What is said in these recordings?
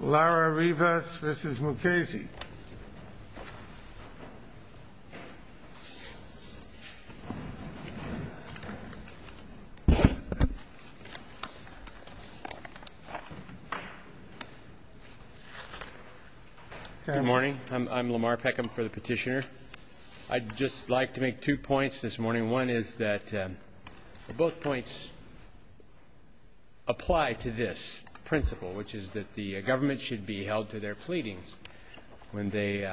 Good morning. I'm Lamar Peckham for the petitioner. I'd just like to make two points this morning. And one is that both points apply to this principle, which is that the government should be held to their pleadings when they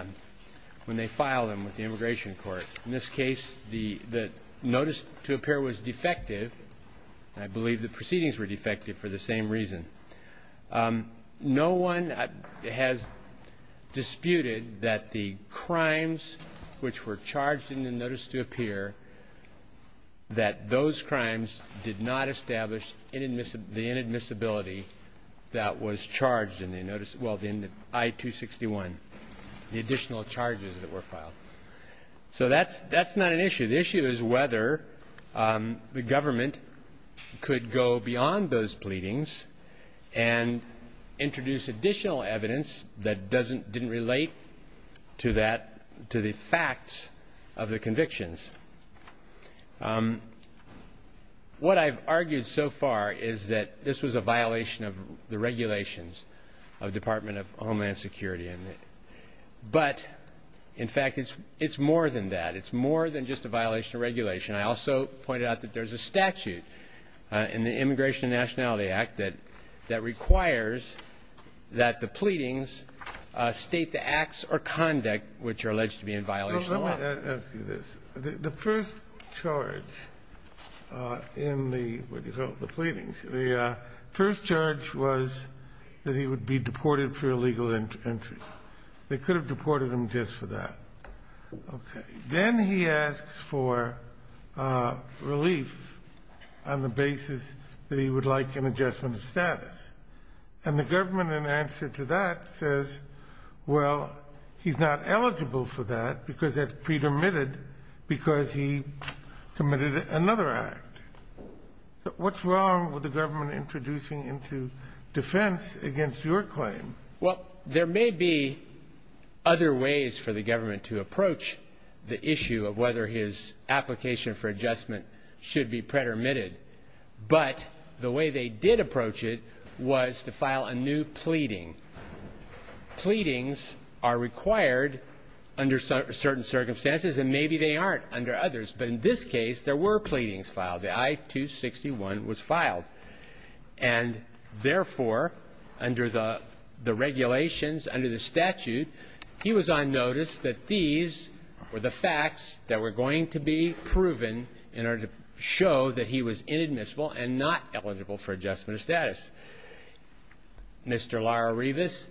file them with the immigration court. In this case, the notice to appear was defective. I believe the proceedings were defective for the same reason. No one has disputed that the crimes which were charged in the notice to appear, that those crimes did not establish the inadmissibility that was charged in the notice of the I-261, the additional charges that were filed. So that's not an issue. The issue is whether the government could go beyond those pleadings and introduce additional evidence that doesn't, didn't relate to that, to the facts of the convictions. What I've argued so far is that this was a violation of the regulations of the Department of Homeland Security. But, in fact, it's more than that. It's more than just a violation of regulation. I also pointed out that there's a statute in the Immigration and Nationality Act that requires that the pleadings state the acts or conduct which are alleged to be in violation of the law. The first charge in the pleadings, the first charge was that he would be deported for illegal entry. They could have deported him just for that. Okay. Then he asks for relief on the basis that he would like an adjustment of status. And the government, in answer to that, says, well, he's not eligible for that because that's pre-dermitted because he committed another act. What's wrong with the government introducing into defense against your claim? Well, there may be other ways for the government to approach the issue of whether his application for adjustment should be pre-dermitted. But the way they did approach it was to file a new pleading. Pleadings are required under certain circumstances, and maybe they aren't under others. But in this case, there were pleadings filed. The I-261 was filed. And therefore, under the regulations, under the statute, he was on notice that these were the facts that were going to be proven in order to show that he was inadmissible and not eligible for adjustment of status. Mr. Lara-Rivas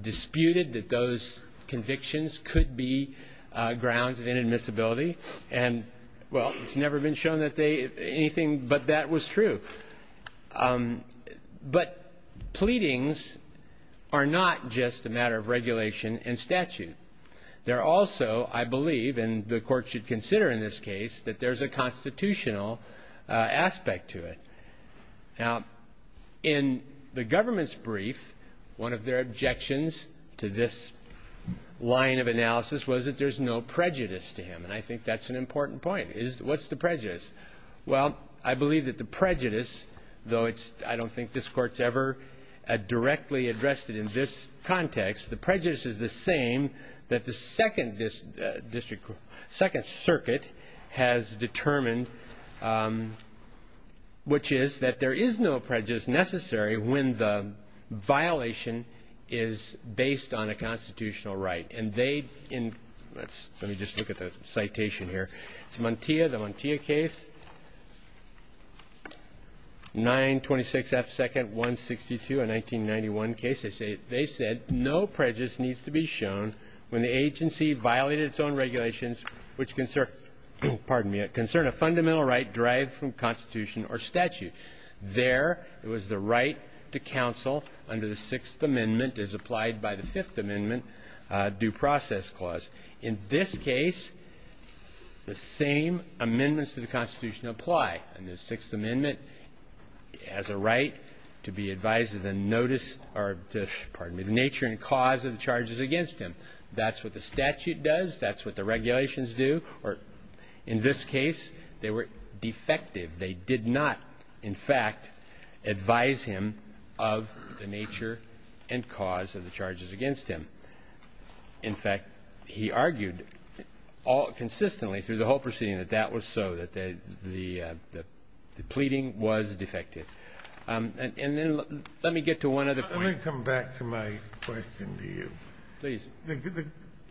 disputed that those convictions could be grounds of inadmissibility. And, well, it's never been shown that anything but that was true. But pleadings are not just a matter of regulation and statute. They're also, I believe, and the Court should consider in this case, that there's a constitutional aspect to it. Now, in the government's brief, one of their objections to this line of analysis was that there's no prejudice to him. And I think that's an important point. What's the prejudice? Well, I believe that the prejudice, though I don't think this Court's ever directly addressed it in this context, the prejudice is the same that the Second Circuit has determined, which is that there is no prejudice necessary when the violation is based on a constitutional right. And they in, let's, let me just look at the citation here. It's Montia, the Montia case, 926 F. 2nd, 162, a 1991 case. They say, they said, no prejudice needs to be shown when the agency violated its own regulations, which concern, pardon me, concern a fundamental right derived from Constitution or statute. There, it was the right to counsel under the Sixth Amendment as applied by the Fifth Amendment due process clause. In this case, the same amendments to the Constitution apply. And the Sixth Amendment has a right to be advised of the notice or to, pardon me, the nature and cause of the charges against him. That's what the statute does. That's what the regulations do. Or in this case, they were defective. They did not, in fact, advise him of the nature and cause of the charges against him. In fact, he argued consistently through the whole proceeding that that was so, that the pleading was defective. And then let me get to one other point. Let me come back to my question to you. Please.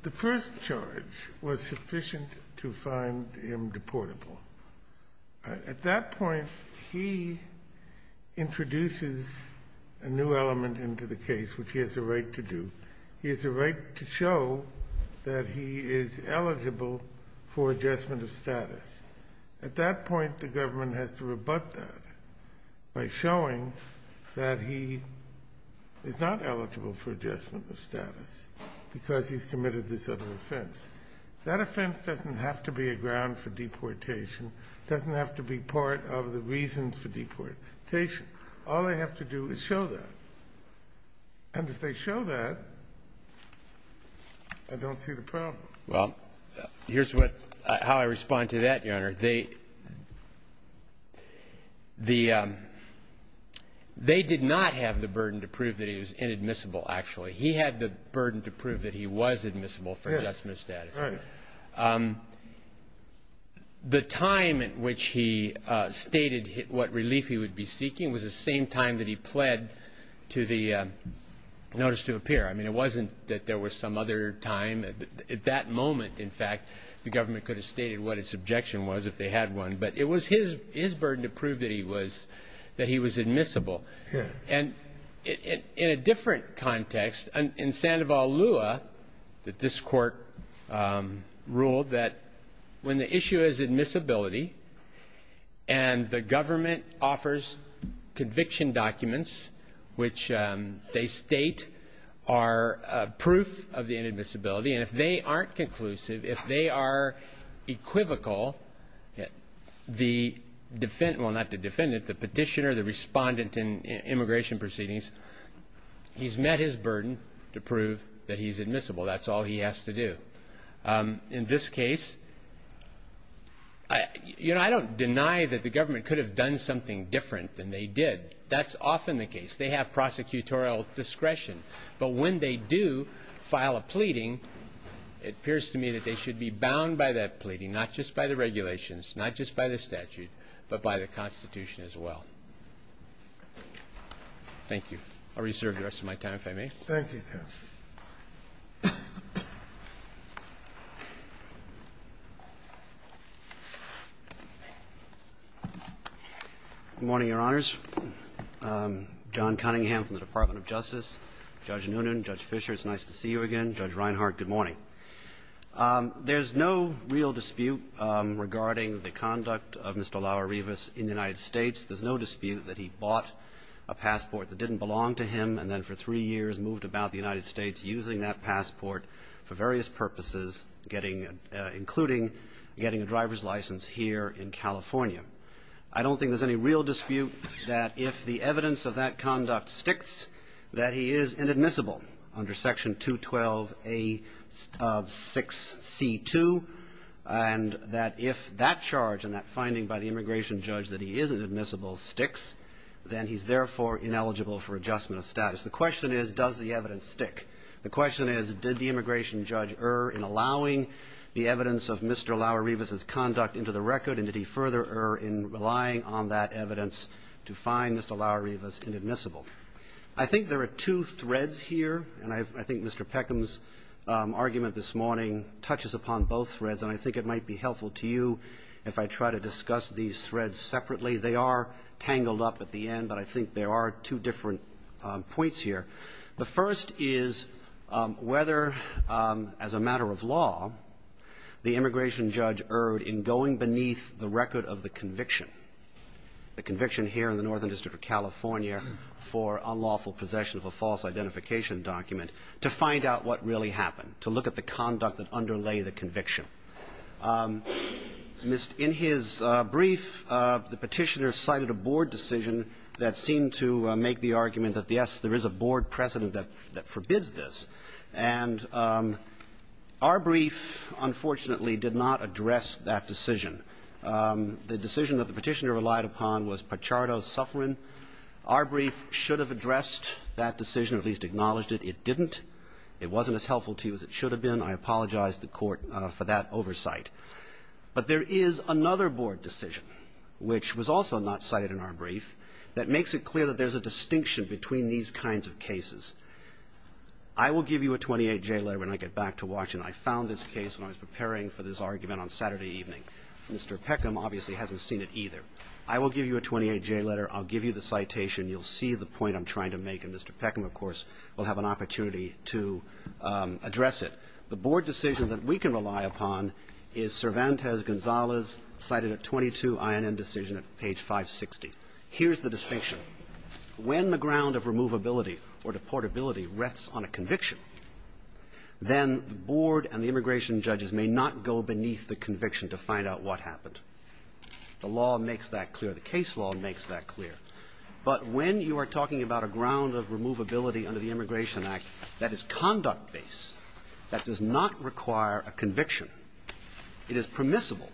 The first charge was sufficient to find him deportable. At that point, he introduces a new element into the case, which he has a right to do. He has a right to show that he is eligible for adjustment of status. At that point, the government has to rebut that by showing that he is not eligible for adjustment of status because he's committed this other offense. That offense doesn't have to be a ground for deportation, doesn't have to be part of the reasons for deportation. All they have to do is show that. And if they show that, I don't see the problem. Well, here's what — how I respond to that, Your Honor. They — they did not have the burden to prove that he was inadmissible, actually. He had the burden to prove that he was admissible for adjustment of status. Right. The time at which he stated what relief he would be seeking was the same time that he pled to the notice to appear. I mean, it wasn't that there was some other time. At that moment, in fact, the government could have stated what its objection was if they had one. But it was his — his burden to prove that he was — that he was admissible. And in a different context, in Sandoval Lua, that this Court ruled that when the issue is admissibility and the government offers conviction documents which they state are proof of the inadmissibility, and if they aren't conclusive, if they are equivocal, the defendant — well, not the defendant, the petitioner, the respondent in immigration proceedings, he's met his burden to prove that he's admissible. That's all he has to do. In this case, you know, I don't deny that the government could have done something different than they did. That's often the case. They have prosecutorial discretion. But when they do file a pleading, it appears to me that they should be bound by that regulations, not just by the statute, but by the Constitution as well. Thank you. I'll reserve the rest of my time, if I may. Thank you, counsel. Good morning, Your Honors. John Cunningham from the Department of Justice. Judge Noonan, Judge Fischer, it's nice to see you again. Judge Reinhardt, good morning. Good morning. There's no real dispute regarding the conduct of Mr. Laura Rivas in the United States. There's no dispute that he bought a passport that didn't belong to him and then for three years moved about the United States using that passport for various purposes, getting — including getting a driver's license here in California. I don't think there's any real dispute that if the evidence of that conduct sticks, that he is inadmissible under Section 212A of 6C2, and that if that charge and that finding by the immigration judge that he is inadmissible sticks, then he's therefore ineligible for adjustment of status. The question is, does the evidence stick? The question is, did the immigration judge err in allowing the evidence of Mr. Laura Rivas' conduct into the record, and did he further err in relying on that evidence to find Mr. Laura Rivas inadmissible? I think there are two threads here, and I've — I think Mr. Peckham's argument this morning touches upon both threads, and I think it might be helpful to you if I try to discuss these threads separately. They are tangled up at the end, but I think there are two different points here. The first is whether, as a matter of law, the immigration judge erred in going beneath the record of the conviction, the conviction here in the Northern District of California for unlawful possession of a false identification document, to find out what really happened, to look at the conduct that underlay the conviction. In his brief, the Petitioner cited a board decision that seemed to make the argument that, yes, there is a board precedent that forbids this. And our brief, unfortunately, did not address that decision. The decision that the Petitioner relied upon was Pachardo's suffering. Our brief should have addressed that decision, at least acknowledged it. It didn't. It wasn't as helpful to you as it should have been. I apologize to the Court for that oversight. But there is another board decision, which was also not cited in our brief, that makes it clear that there's a distinction between these kinds of cases. I will give you a 28-J letter when I get back to Washington. I found this case when I was preparing for this argument on Saturday evening. Mr. Peckham obviously hasn't seen it either. I will give you a 28-J letter. I'll give you the citation. You'll see the point I'm trying to make. And Mr. Peckham, of course, will have an opportunity to address it. The board decision that we can rely upon is Cervantes cited at 22 INN decision at page 560. Here's the distinction. When the ground of removability or deportability rests on a conviction, then the board and the immigration judges may not go beneath the conviction to find out what happened. The law makes that clear. The case law makes that clear. But when you are talking about a ground of removability under the Immigration Act that is conduct-based, that does not require a conviction. It is permissible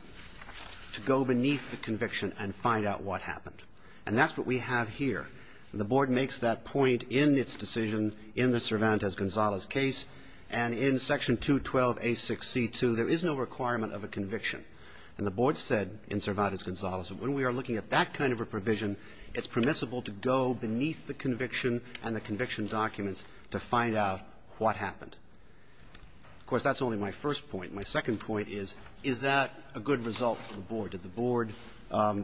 to go beneath the conviction and find out what happened. And that's what we have here. And the board makes that point in its decision in the Cervantes-Gonzalez case. And in Section 212A6C2, there is no requirement of a conviction. And the board said in Cervantes-Gonzalez that when we are looking at that kind of a provision, it's permissible to go beneath the conviction and the conviction documents to find out what happened. Of course, that's only my first point. My second point is, is that a good result for the board? Did the board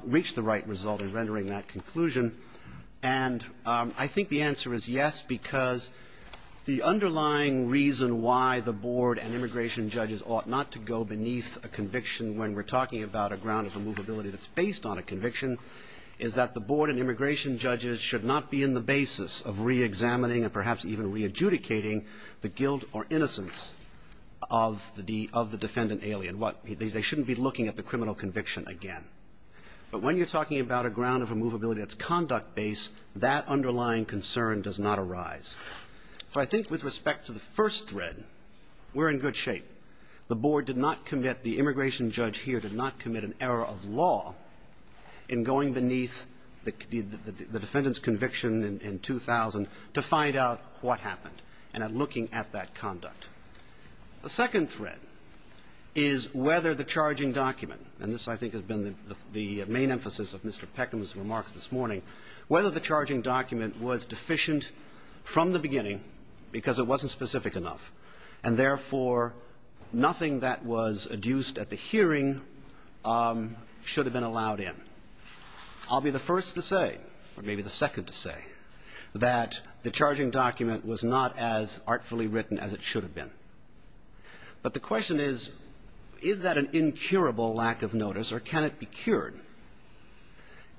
reach the right result in rendering that conclusion? And I think the answer is yes, because the underlying reason why the board and immigration judges ought not to go beneath a conviction when we're talking about a ground of removability that's based on a conviction is that the board and immigration judges should not be in the basis of reexamining and perhaps even readjudicating the guilt or innocence of the defendant alien. They shouldn't be looking at the criminal conviction again. But when you're talking about a ground of removability that's conduct-based, that underlying concern does not arise. So I think with respect to the first thread, we're in good shape. The board did not commit an error of law in going beneath the defendant's conviction in 2000 to find out what happened and in looking at that conduct. The second thread is whether the charging document, and this I think has been the main emphasis of Mr. Peckham's remarks this morning, whether the charging document was deficient from the beginning because it wasn't specific enough, and therefore nothing that was adduced at the hearing should have been allowed in. I'll be the first to say, or maybe the second to say, that the charging document was not as artfully written as it should have been. But the question is, is that an incurable lack of notice, or can it be cured?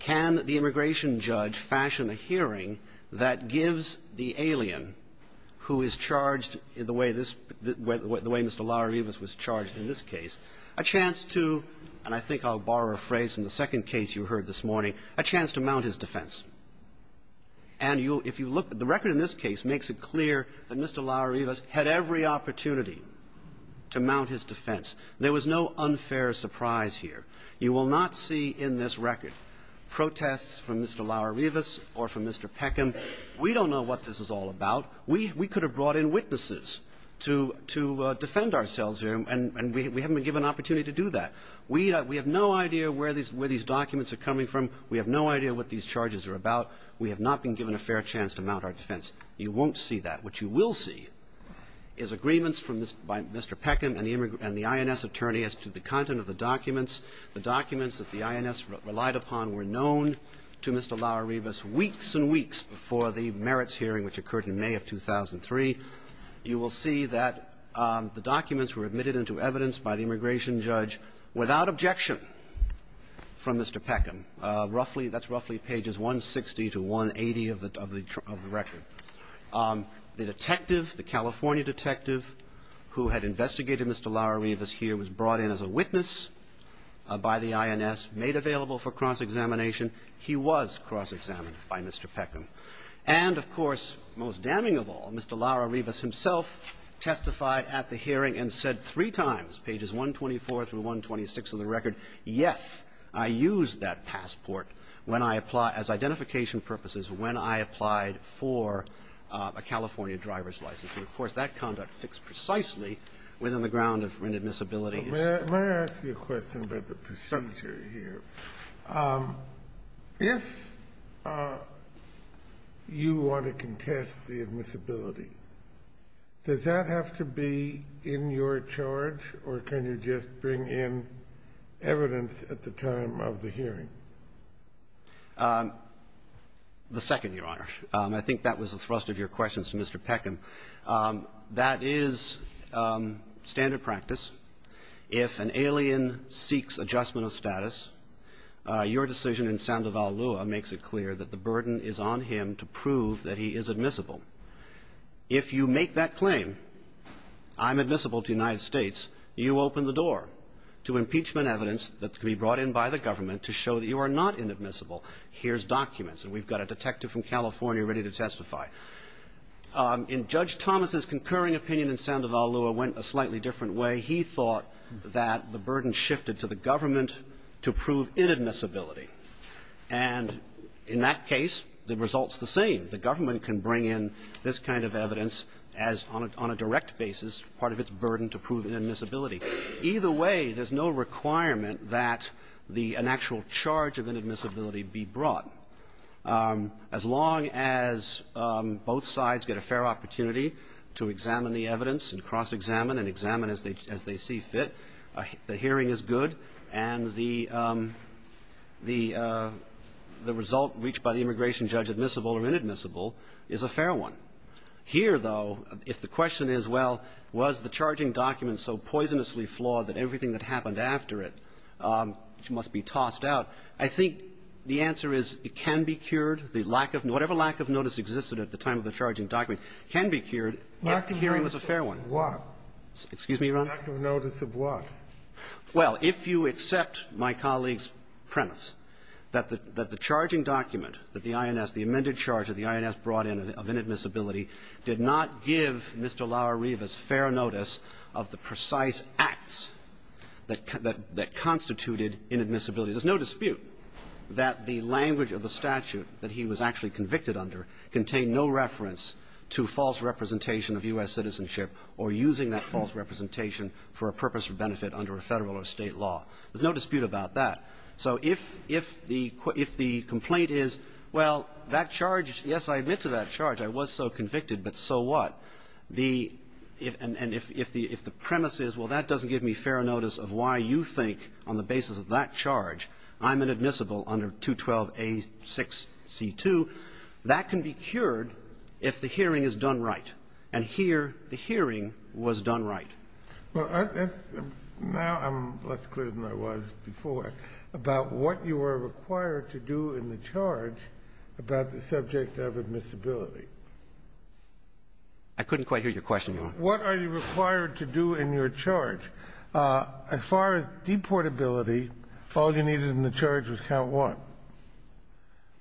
Can the immigration judge fashion a hearing that gives the alien who is charged the way this Mr. Larrivas was charged in this case a chance to, and I think I'll borrow a phrase from the second case you heard this morning, a chance to mount his defense? And if you look, the record in this case makes it clear that Mr. Larrivas had every opportunity to mount his defense. There was no unfair surprise here. You will not see in this record protests from Mr. Larrivas or from Mr. Peckham. We don't know what this is all about. We could have brought in witnesses to defend ourselves here, and we haven't been given an opportunity to do that. We have no idea where these documents are coming from. We have no idea what these charges are about. We have not been given a fair chance to mount our defense. You won't see that. What you will see is agreements from Mr. Peckham and the INS attorney as to the content of the documents. The documents that the INS relied upon were known to Mr. Larrivas weeks and weeks before the merits hearing which occurred in May of 2003. You will see that the documents were admitted into evidence by the immigration judge without objection from Mr. Peckham. Roughly, that's roughly pages 160 to 180 of the record. The detective, the California detective who had investigated Mr. Larrivas here was brought in as a witness by the INS, made available for cross-examination. He was cross-examined by Mr. Peckham. And, of course, most damning of all, Mr. Larrivas himself testified at the hearing and said three times, pages 124 through 126 of the record, yes, I used that passport when I applied as identification purposes, when I applied for a California driver's license. And, of course, that conduct fits precisely within the ground of inadmissibility Kennedy, may I ask you a question about the percentage here? If you want to contest the admissibility, does that have to be in your charge, or can you just bring in evidence at the time of the hearing? The second, Your Honor. I think that was the thrust of your questions to Mr. Peckham. That is standard practice. If an alien seeks adjustment of status, your decision in Sandoval Lua makes it clear that the burden is on him to prove that he is admissible. If you make that claim, I'm admissible to the United States, you open the door to impeachment evidence that can be brought in by the government to show that you are not inadmissible. Here's documents, and we've got a detective from California ready to testify. In Judge Thomas's concurring opinion in Sandoval Lua went a slightly different way. He thought that the burden shifted to the government to prove inadmissibility. And in that case, the result's the same. The government can bring in this kind of evidence as, on a direct basis, part of its burden to prove inadmissibility. Either way, there's no requirement that the an actual charge of inadmissibility be brought. As long as both sides get a fair opportunity to examine the evidence and cross-examine and examine as they see fit, the hearing is good, and the result reached by the immigration judge admissible or inadmissible is a fair one. Here, though, if the question is, well, was the charging document so poisonously flawed that everything that happened after it must be tossed out, I think the answer is it can be cured. The lack of notice, whatever lack of notice existed at the time of the charging document, can be cured if the hearing was a fair one. Kennedy. What? Excuse me, Your Honor. The lack of notice of what? Well, if you accept my colleague's premise that the charging document that the INS, the amended charge that the INS brought in of inadmissibility, did not give Mr. Lauerevis fair notice of the precise acts that constituted inadmissibility, there's no dispute that the language of the statute that he was actually convicted under contained no reference to false representation of U.S. citizenship or using that false representation for a purpose or benefit under a Federal or State law. There's no dispute about that. So if the complaint is, well, that charge, yes, I admit to that charge, I was so convicted, but so what, the – and if the premise is, well, that doesn't give me fair notice of why you think on the basis of that charge I'm inadmissible under 212a6c2, that can be cured if the hearing is done right. And here, the hearing was done right. Well, that's – now I'm less clear than I was before about what you are required to do in the charge about the subject of admissibility. I couldn't quite hear your question, Your Honor. What are you required to do in your charge? As far as deportability, all you needed in the charge was count one.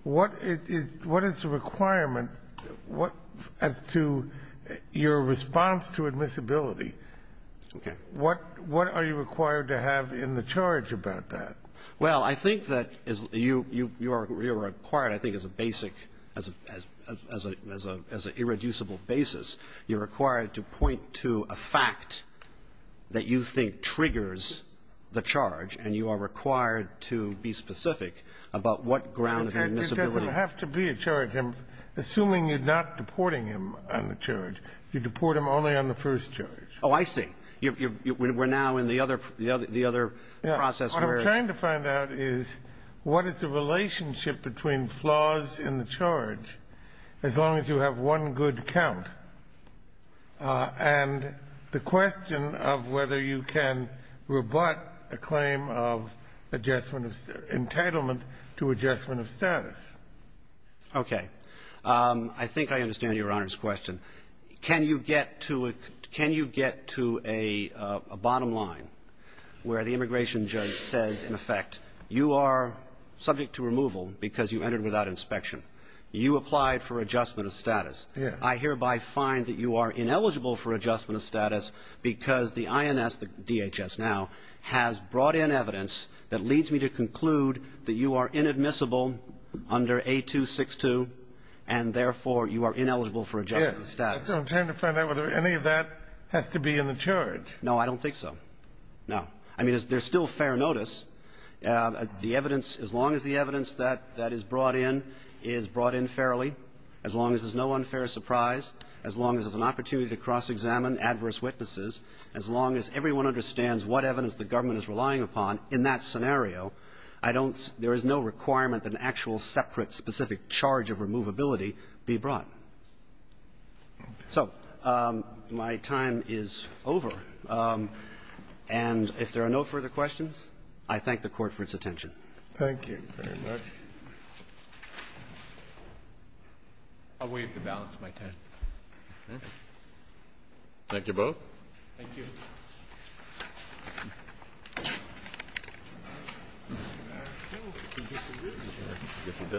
What is the requirement as to your response to admissibility? What are you required to have in the charge about that? Well, I think that you are required, I think, as a basic, as an irreducible basis, you're required to point to a fact that you think triggers the charge, and you are required to be specific about what grounds admissibility – It doesn't have to be a charge. I'm assuming you're not deporting him on the charge. You deport him only on the first charge. Oh, I see. You're – we're now in the other – the other process where it's – What I'm trying to find out is what is the relationship between flaws in the charge, as long as you have one good count, and the question of whether you can rebut a claim of entitlement to adjustment of status. Okay. I think I understand Your Honor's question. Can you get to a – can you get to a bottom line where the immigration judge says, in effect, you are subject to removal because you entered without inspection. You applied for adjustment of status. Yes. I hereby find that you are ineligible for adjustment of status because the INS, the DHS now, has brought in evidence that leads me to conclude that you are inadmissible under A262, and therefore, you are ineligible for adjustment of status. Yes. I'm trying to find out whether any of that has to be in the charge. No, I don't think so. No. I mean, there's still fair notice. The evidence – as long as the evidence that is brought in is brought in fairly, as long as there's no unfair surprise, as long as there's an opportunity to cross-examine adverse witnesses, as long as everyone understands what evidence the government is relying upon, in that scenario, I don't – there is no requirement that an actual, separate, specific charge of removability be brought. So my time is over, and if there are no further questions, I thank the Court for its attention. Thank you. Thank you very much. I'll waive the balance of my time. Thank you both. Thank you.